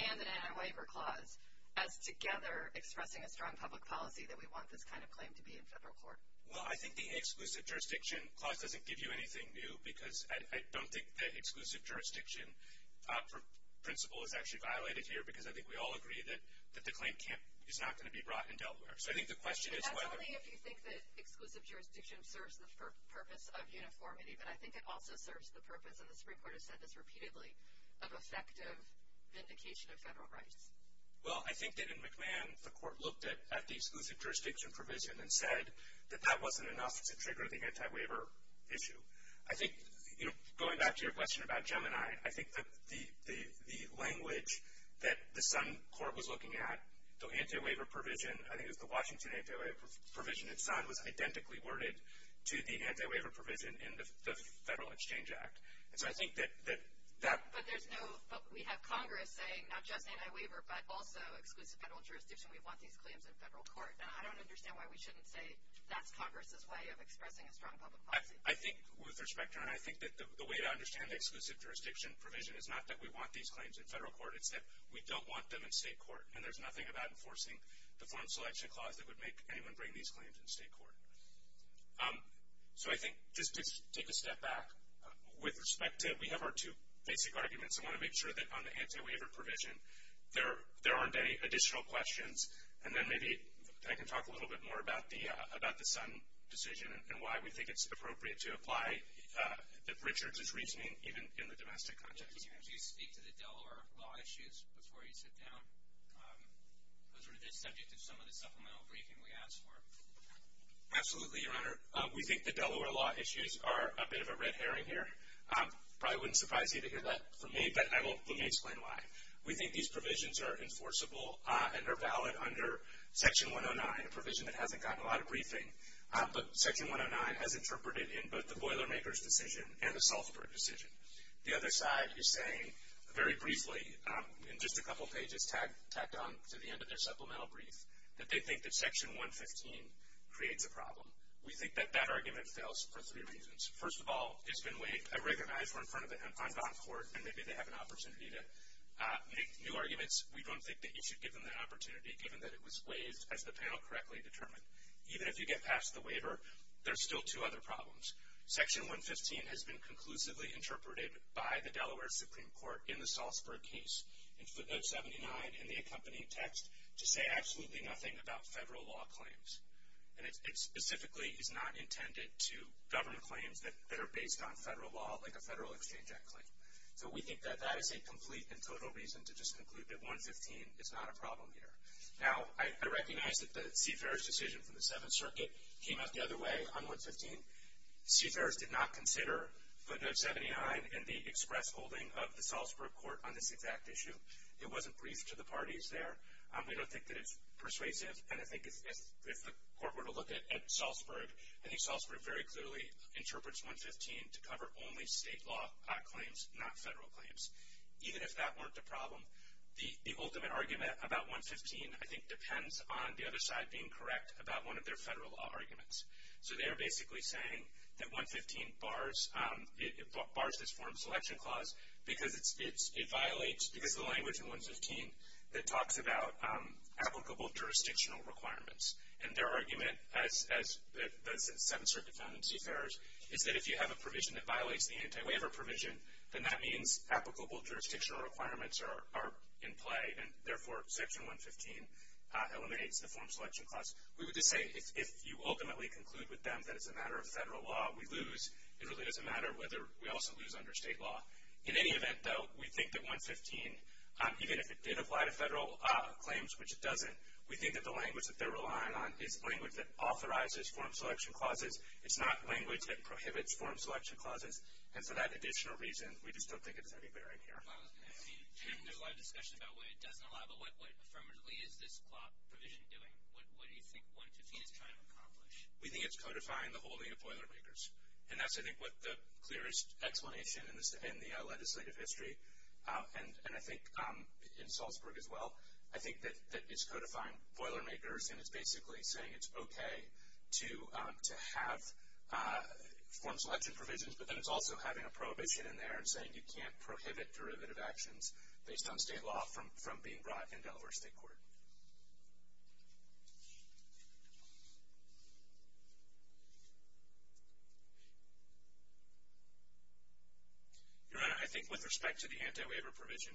and an anti-waiver clause as together expressing a strong public policy that we want this kind of claim to be in federal court. Well, I think the exclusive jurisdiction clause doesn't give you anything new, because I don't think that exclusive jurisdiction principle is actually violated here, because I think we all agree that the claim is not going to be brought in Delaware. So I think the question is whether— But that's only if you think that exclusive jurisdiction serves the purpose of uniformity, but I think it also serves the purpose, and the Supreme Court has said this repeatedly, of effective vindication of federal rights. Well, I think that in McMahon, the court looked at the exclusive jurisdiction provision and said that that wasn't enough to trigger the anti-waiver issue. I think, you know, going back to your question about Gemini, I think that the language that the Sun Court was looking at, the anti-waiver provision, I think it was the Washington anti-waiver provision in Sun, was identically worded to the anti-waiver provision in the Federal Exchange Act. And so I think that that— But there's no—we have Congress saying not just anti-waiver, but also exclusive federal jurisdiction. We want these claims in federal court. And I don't understand why we shouldn't say that's Congress's way of expressing a strong public policy. I think, with respect to that, I think that the way to understand the exclusive jurisdiction provision is not that we want these claims in federal court. It's that we don't want them in state court, and there's nothing about enforcing the form selection clause that would make anyone bring these claims in state court. So I think—just take a step back. With respect to—we have our two basic arguments. I want to make sure that on the anti-waiver provision, there aren't any additional questions, and then maybe I can talk a little bit more about the Sun decision and why we think it's appropriate to apply Richard's reasoning even in the domestic context. Could you speak to the Delaware law issues before you sit down? Those are the subject of some of the supplemental briefing we asked for. Absolutely, Your Honor. We think the Delaware law issues are a bit of a red herring here. Probably wouldn't surprise you to hear that from me, but let me explain why. We think these provisions are enforceable and are valid under Section 109, a provision that hasn't gotten a lot of briefing, but Section 109 has interpreted in both the Boilermakers decision and the Salford decision. The other side is saying, very briefly, in just a couple pages, tacked on to the end of their supplemental brief, that they think that Section 115 creates a problem. We think that that argument fails for three reasons. First of all, it's been weighed. I recognize we're in front of it on bond court, and maybe they have an opportunity to make new arguments. We don't think that you should give them that opportunity, given that it was weighed as the panel correctly determined. Even if you get past the waiver, there's still two other problems. Section 115 has been conclusively interpreted by the Delaware Supreme Court in the Salsburg case, in footnote 79, in the accompanying text, to say absolutely nothing about federal law claims. And it specifically is not intended to govern claims that are based on federal law, like a Federal Exchange Act claim. So we think that that is a complete and total reason to just conclude that 115 is not a problem here. Now, I recognize that the Seafarers decision from the Seventh Circuit came out the other way on 115. Seafarers did not consider footnote 79 and the express holding of the Salsburg court on this exact issue. It wasn't briefed to the parties there. We don't think that it's persuasive, and I think if the court were to look at Salsburg, I think Salsburg very clearly interprets 115 to cover only state law claims, not federal claims. Even if that weren't the problem, the ultimate argument about 115, I think, depends on the other side being correct about one of their federal law arguments. So they are basically saying that 115 bars this form of selection clause because it violates, because of the language in 115 that talks about applicable jurisdictional requirements. And their argument, as the Seventh Circuit found in Seafarers, is that if you have a provision that violates the anti-waiver provision, then that means applicable jurisdictional requirements are in play, and therefore Section 115 eliminates the form selection clause. We would just say if you ultimately conclude with them that it's a matter of federal law, we lose. It really doesn't matter whether we also lose under state law. In any event, though, we think that 115, even if it did apply to federal claims, which it doesn't, we think that the language that they're relying on is language that authorizes form selection clauses. It's not language that prohibits form selection clauses. And for that additional reason, we just don't think it's any better in here. Well, I mean, there's a lot of discussion about what it doesn't allow, but what affirmatively is this provision doing? What do you think 115 is trying to accomplish? We think it's codifying the holding of Boilermakers. And that's, I think, what the clearest explanation in the legislative history, and I think in Salzburg as well, I think that it's codifying Boilermakers and it's basically saying it's okay to have form selection provisions, but then it's also having a prohibition in there and saying you can't prohibit derivative actions based on state law from being brought in Delaware State Court. Your Honor, I think with respect to the anti-waiver provision,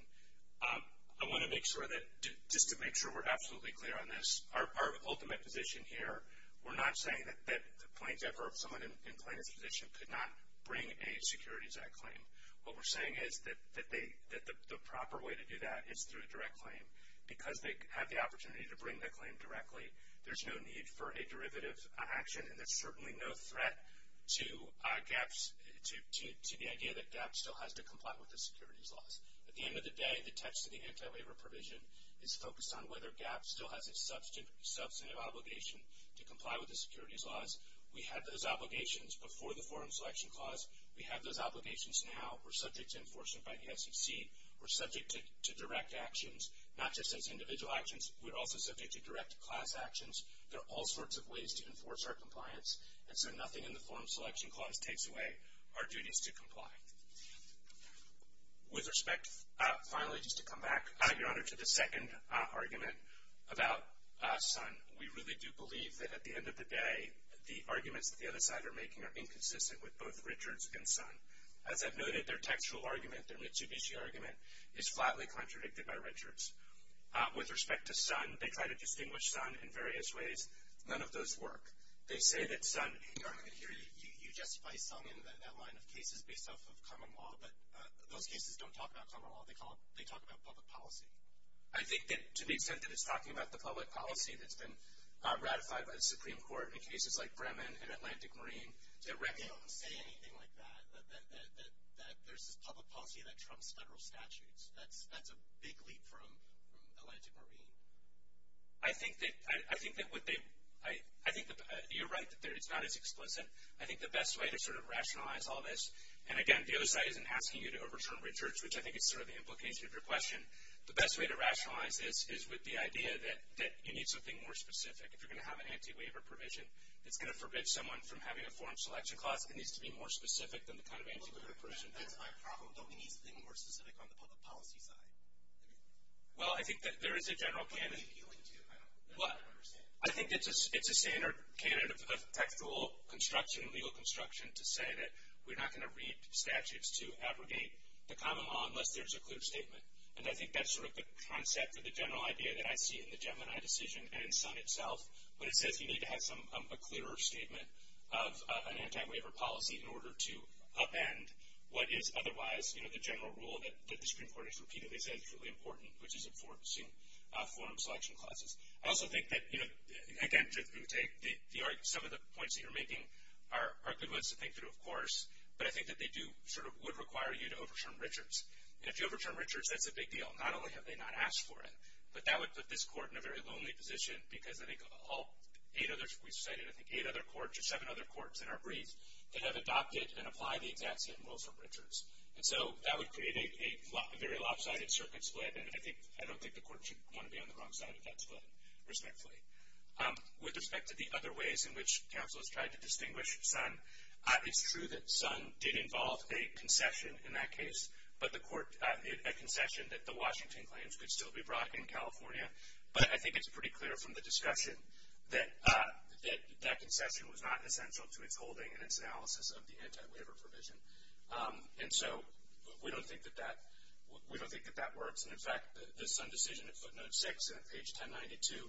I want to make sure that, just to make sure we're absolutely clear on this, our ultimate position here, we're not saying that the plaintiff or someone in plaintiff's position could not bring a Securities Act claim. What we're saying is that the proper way to do that is through a direct claim. Because they have the opportunity to bring the claim directly, there's no need for a derivative action, and there's certainly no threat to the idea that GAP still has to comply with the securities laws. At the end of the day, the text of the anti-waiver provision is focused on whether GAP still has a substantive obligation to comply with the securities laws. We had those obligations before the forum selection clause. We have those obligations now. We're subject to enforcement by the SEC. We're subject to direct actions, not just as individual actions. We're also subject to direct class actions. There are all sorts of ways to enforce our compliance, and so nothing in the forum selection clause takes away our duties to comply. With respect, finally, just to come back, Your Honor, to the second argument about Sun. We really do believe that at the end of the day, the arguments that the other side are making are inconsistent with both Richards and Sun. As I've noted, their textual argument, their Mitsubishi argument, is flatly contradicted by Richards. With respect to Sun, they try to distinguish Sun in various ways. None of those work. They say that Sun, Your Honor, here you justify Sun in that line of cases based off of common law, but those cases don't talk about common law. They talk about public policy. I think that to the extent that it's talking about the public policy that's been ratified by the Supreme Court in cases like Bremen and Atlantic Marine, to reckon with... They don't say anything like that, that there's this public policy that trumps federal statutes. That's a big leap from Atlantic Marine. I think that what they... You're right that it's not as explicit. I think the best way to sort of rationalize all this, and again, the other side isn't asking you to overturn Richards, which I think is sort of the implication of your question. The best way to rationalize this is with the idea that you need something more specific. If you're going to have an anti-waiver provision, it's going to forbid someone from having a foreign selection clause. It needs to be more specific than the kind of anti-waiver provision. That's my problem. Don't we need something more specific on the public policy side? Well, I think that there is a general... What are you appealing to? I don't understand. I think it's a standard candidate of textual construction, legal construction, to say that we're not going to read statutes to abrogate the common law unless there's a clear statement. And I think that's sort of the concept of the general idea that I see in the Gemini decision and in Sun itself when it says you need to have a clearer statement of an anti-waiver policy in order to upend what is otherwise, you know, the general rule that the Supreme Court has repeatedly said is really important, which is enforcing foreign selection clauses. I also think that, you know, again, some of the points that you're making are good ones to think through, of course, but I think that they do sort of would require you to overturn Richards. And if you overturn Richards, that's a big deal. Not only have they not asked for it, but that would put this court in a very lonely position because I think all eight others we cited, I think eight other courts or seven other courts in our brief that have adopted and applied the exact same rules from Richards. And so that would create a very lopsided circuit split, and I don't think the court should want to be on the wrong side of that split, respectfully. With respect to the other ways in which counselors tried to distinguish Sun, it's true that Sun did involve a concession in that case, but the court made a concession that the Washington claims could still be brought in California. But I think it's pretty clear from the discussion that that concession was not essential to its holding and its analysis of the anti-waiver provision. And so we don't think that that works. And, in fact, the Sun decision at footnote 6 on page 1092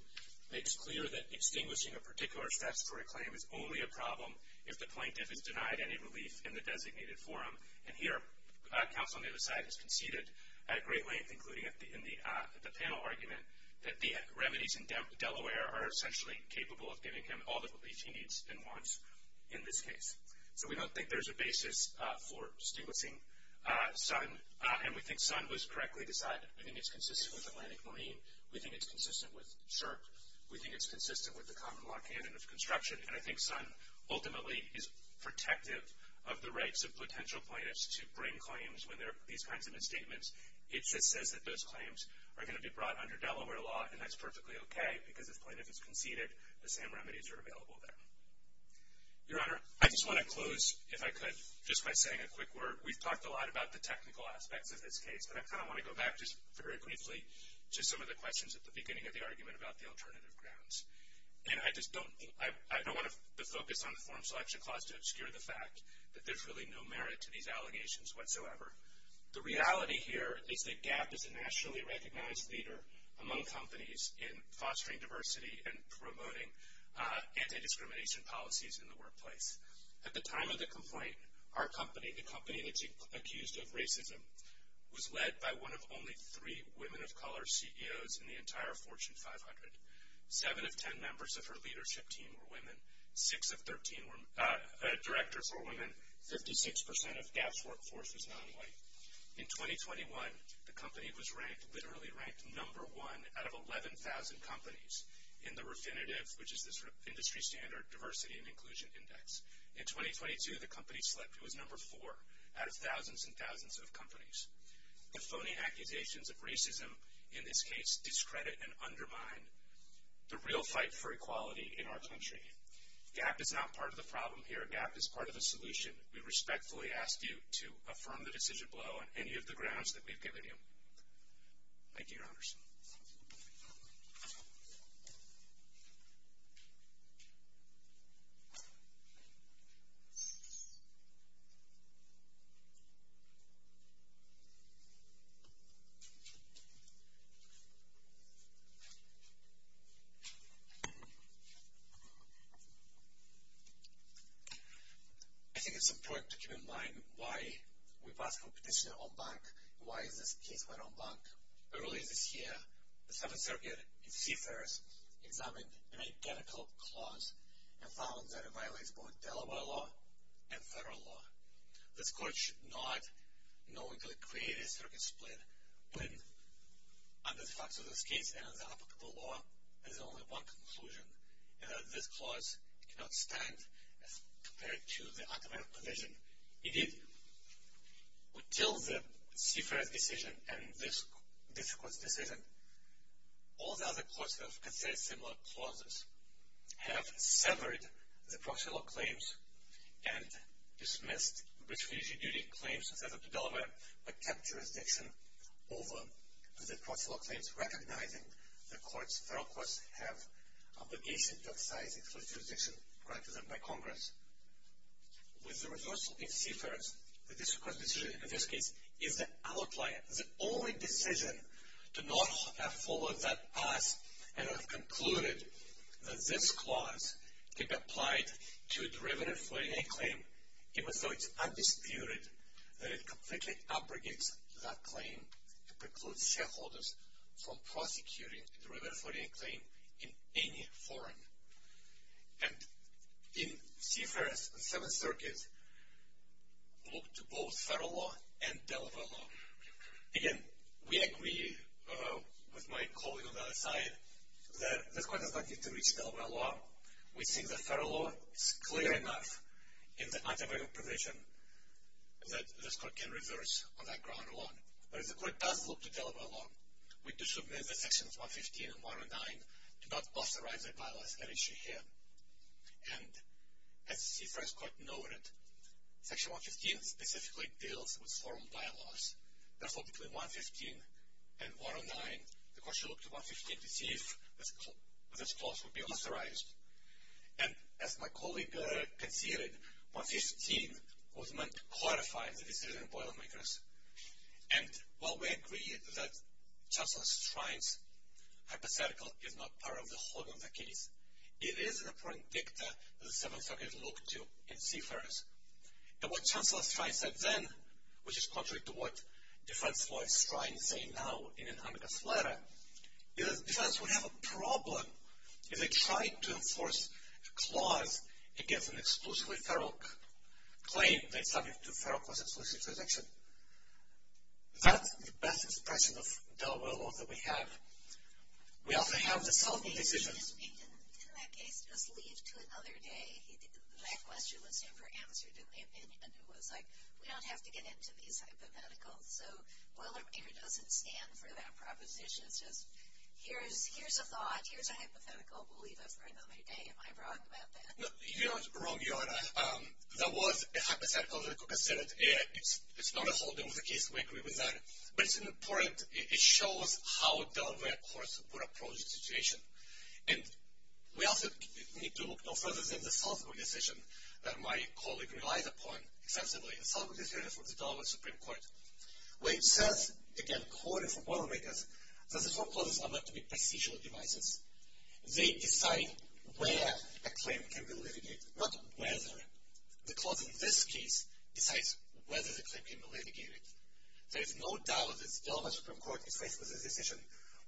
makes clear that extinguishing a particular statutory claim is only a problem if the plaintiff is denied any relief in the designated forum. And here, counsel on the other side has conceded at great length, including in the panel argument, that the remedies in Delaware are essentially capable of giving him all the relief he needs and wants in this case. So we don't think there's a basis for distinguishing Sun. And we think Sun was correctly decided. We think it's consistent with Atlantic Marine. We think it's consistent with SHRP. We think it's consistent with the common law canon of construction. And I think Sun ultimately is protective of the rights of potential plaintiffs to bring claims when there are these kinds of misstatements. It just says that those claims are going to be brought under Delaware law, and that's perfectly okay, because if the plaintiff has conceded, the same remedies are available there. Your Honor, I just want to close, if I could, just by saying a quick word. We've talked a lot about the technical aspects of this case, but I kind of want to go back just very briefly to some of the questions at the beginning of the argument about the alternative grounds. And I just don't want to focus on the form selection clause to obscure the fact that there's really no merit to these allegations whatsoever. The reality here is that GAP is a nationally recognized leader among companies in fostering diversity and promoting anti-discrimination policies in the workplace. At the time of the complaint, our company, a company that's accused of racism, was led by one of only three women of color CEOs in the entire Fortune 500. Seven of ten members of her leadership team were women. Six of 13 directors were women. Fifty-six percent of GAP's workforce was nonwhite. In 2021, the company was ranked, literally ranked, number one out of 11,000 companies in the Refinitiv, which is this industry standard diversity and inclusion index. In 2022, the company slipped. It was number four out of thousands and thousands of companies. The phony accusations of racism in this case discredit and undermine the real fight for equality in our country. GAP is not part of the problem here. GAP is part of the solution. We respectfully ask you to affirm the decision below on any of the grounds that we've given you. Thank you, Your Honors. I think it's important to keep in mind why we've asked for a petitioner on bank and why this case went on bank. Early this year, the Seventh Circuit in Seifert examined an identical clause and found that it violates both Delaware law and federal law. This court should not knowingly create a circuit split when, under the facts of this case and under the applicable law, there's only one conclusion, and that this clause cannot stand as compared to the automatic provision. Indeed, until the Seifert decision and this court's decision, all the other courts that have considered similar clauses have severed the proxy law claims and dismissed refugee duty claims that are to Delaware but kept jurisdiction over the proxy law claims, recognizing the courts, federal courts, have obligation to excise exclusive jurisdiction granted to them by Congress. With the reversal in Seifert, the district court's decision in this case is the outlier, the only decision to not have followed that path and have concluded that this clause can be applied to a derivative 49 claim, even though it's undisputed that it completely abrogates that claim to preclude shareholders from prosecuting a derivative 49 claim in any forum. And in Seifert's Seventh Circuit, look to both federal law and Delaware law. Again, we agree with my colleague on the other side that this court does not need to reach Delaware law. We think that federal law is clear enough in the automatic provision that this court can reverse on that ground alone. But if the court does look to Delaware law, we do submit that Sections 115 and 109 do not authorize that bylaws that issue here. And as Seifert's court noted, Section 115 specifically deals with forum bylaws. Therefore, between 115 and 109, the court should look to 115 to see if this clause would be authorized. And as my colleague conceded, 115 was meant to horrify the decision boilermakers. And while we agree that Chancellor Strine's hypothetical is not part of the whole of the case, it is the predictor that the Seventh Circuit looked to in Seifert's. And what Chancellor Strine said then, which is contrary to what DeFrancois Strine is saying now in Anamika's letter, is that the defense would have a problem if they tried to enforce a clause against an exclusively federal claim that is subject to federal clause-exclusive protection. That's the best expression of Delaware law that we have. We also have the Selden decision. He didn't, in that case, just leave to another day. That question was never answered in the opinion. It was like, we don't have to get into these hypotheticals. So boilermaker doesn't stand for that proposition. It's just, here's a thought. Here's a hypothetical. We'll leave it for another day. Am I wrong about that? No, you're not wrong, Your Honor. That was a hypothetical. The court has said it. It's not a whole deal with the case. We agree with that. But it's important. It shows how Delaware courts would approach the situation. And we also need to look no further than the Selden decision that my colleague relies upon extensively. The Selden decision from the Delaware Supreme Court, where it says, again, quoted from boilermakers, that the four clauses are meant to be procedural devices. They decide where a claim can be litigated, not whether. The clause in this case decides whether the claim can be litigated. There is no doubt that the Delaware Supreme Court, if faced with this decision,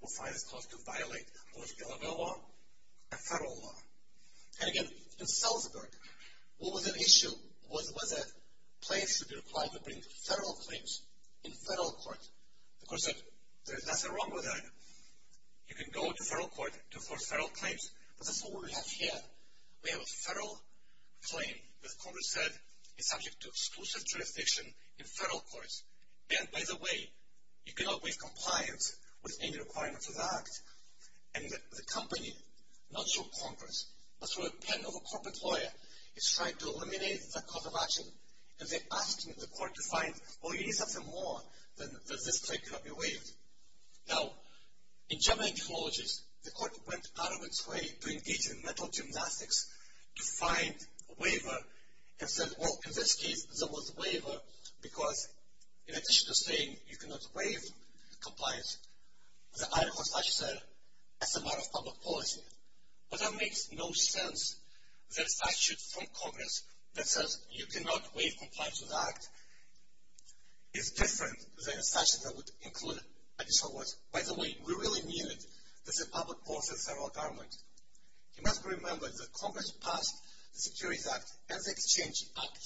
will find this clause to violate both Delaware law and federal law. And, again, in Salzburg, what was the issue? Was there a place to be required to bring federal claims in federal court? The court said, there's nothing wrong with that. You can go to federal court for federal claims. But that's not what we have here. We have a federal claim that Congress said is subject to exclusive jurisdiction in federal courts. And, by the way, you cannot waive compliance with any requirements of the act. And the company, not through Congress, but through a pen of a corporate lawyer, is trying to eliminate that cause of action. And they're asking the court to find, oh, you need something more than this claim cannot be waived. Now, in German ecologies, the court went out of its way to engage in metal gymnastics to find a waiver. And said, well, in this case, there was a waiver because, in addition to saying you cannot waive compliance, the article says it's a matter of public policy. But that makes no sense. That statute from Congress that says you cannot waive compliance with the act is different than a statute that would include additional words. By the way, we really need it. This is public policy in federal government. You must remember that Congress passed the Securities Act and the Exchange Act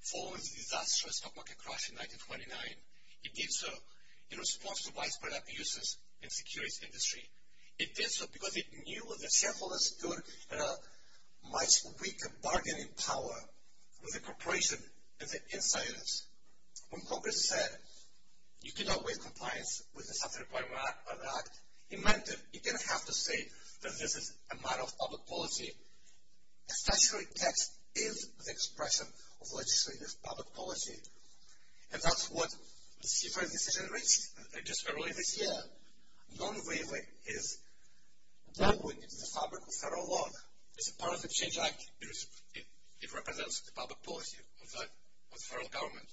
following the disastrous stock market crash in 1929. It did so in response to widespread abuses in the securities industry. It did so because it knew that shareholders stood in a much weaker bargaining power with the corporation and the insiders. When Congress said you cannot waive compliance with the subject requirement of the act, it meant that it didn't have to say that this is a matter of public policy. A statutory text is the expression of legislative public policy. And that's what the CFR decision reached just earlier this year. Non-waiving is not going into the fabric of federal law. It's a part of the Exchange Act. It represents the public policy of the federal government.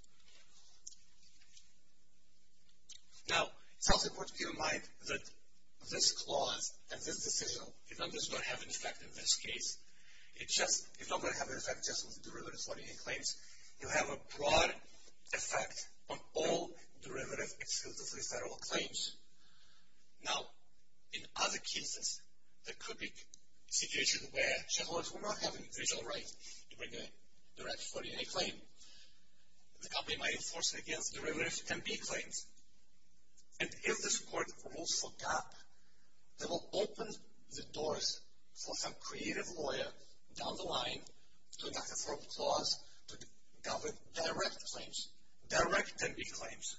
Now, it's also important to keep in mind that this clause and this decision, it's not going to have an effect in this case. It's not going to have an effect just with the derivatives, what he claims. You have a broad effect on all derivatives, exclusively federal claims. Now, in other cases, there could be situations where shareholders will not have a visual right to bring a direct 40-day claim. The company might enforce it against derivatives and big claims. And if this court rules for gap, that will open the doors for some creative lawyer down the line to enact a federal clause to govern direct claims, direct 10-day claims.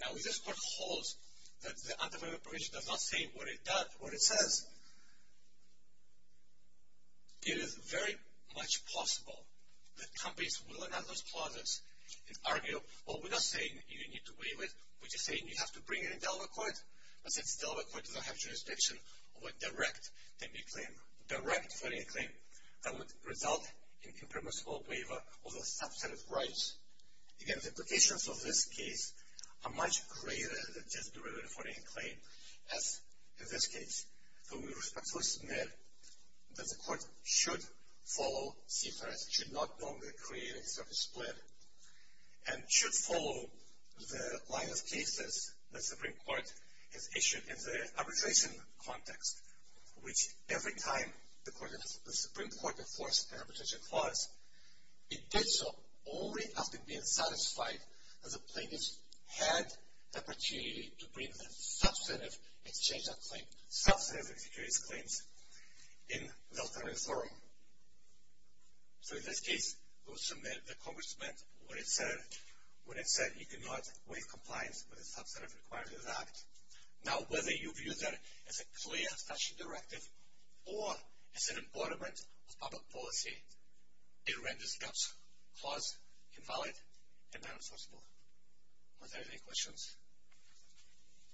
Now, if this court holds that the anti-waiver provision does not say what it does, what it says, it is very much possible that companies will enact those clauses and argue, well, we're not saying you need to waive it. We're just saying you have to bring it in Delaware court. But since Delaware court does not have jurisdiction over direct 10-day claim, direct 40-day claim, that would result in impermissible waiver of the substantive rights. Again, the implications of this case are much greater than just derivative 40-day claim, as in this case. So we respectfully submit that the court should follow CFRS. It should not wrongly create a service plan. And should follow the line of cases the Supreme Court has issued in the arbitration context, which every time the Supreme Court enforced an arbitration clause, it did so only after being satisfied that the plaintiffs had the opportunity to bring the substantive exchange of claims, substantive exchange of claims, in the alternative forum. So in this case, we will submit that Congress met what it said. What it said, you cannot waive compliance with the substantive requirements of the act. Now, whether you view that as a clear statute directive or as an embodiment of public policy, it renders that clause invalid and unenforceable. Are there any questions?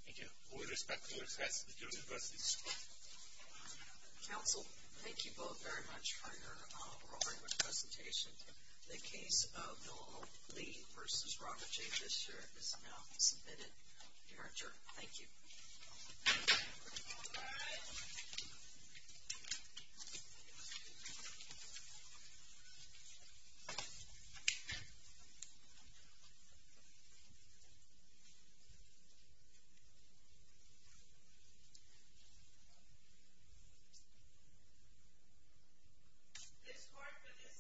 Thank you. We respectfully request the jury to close this hearing. Counsel, thank you both very much for your rolling with presentation. The case of Noel Lee versus Robert J. Fisher is now submitted. You are adjourned. Thank you. This court for this session stands adjourned.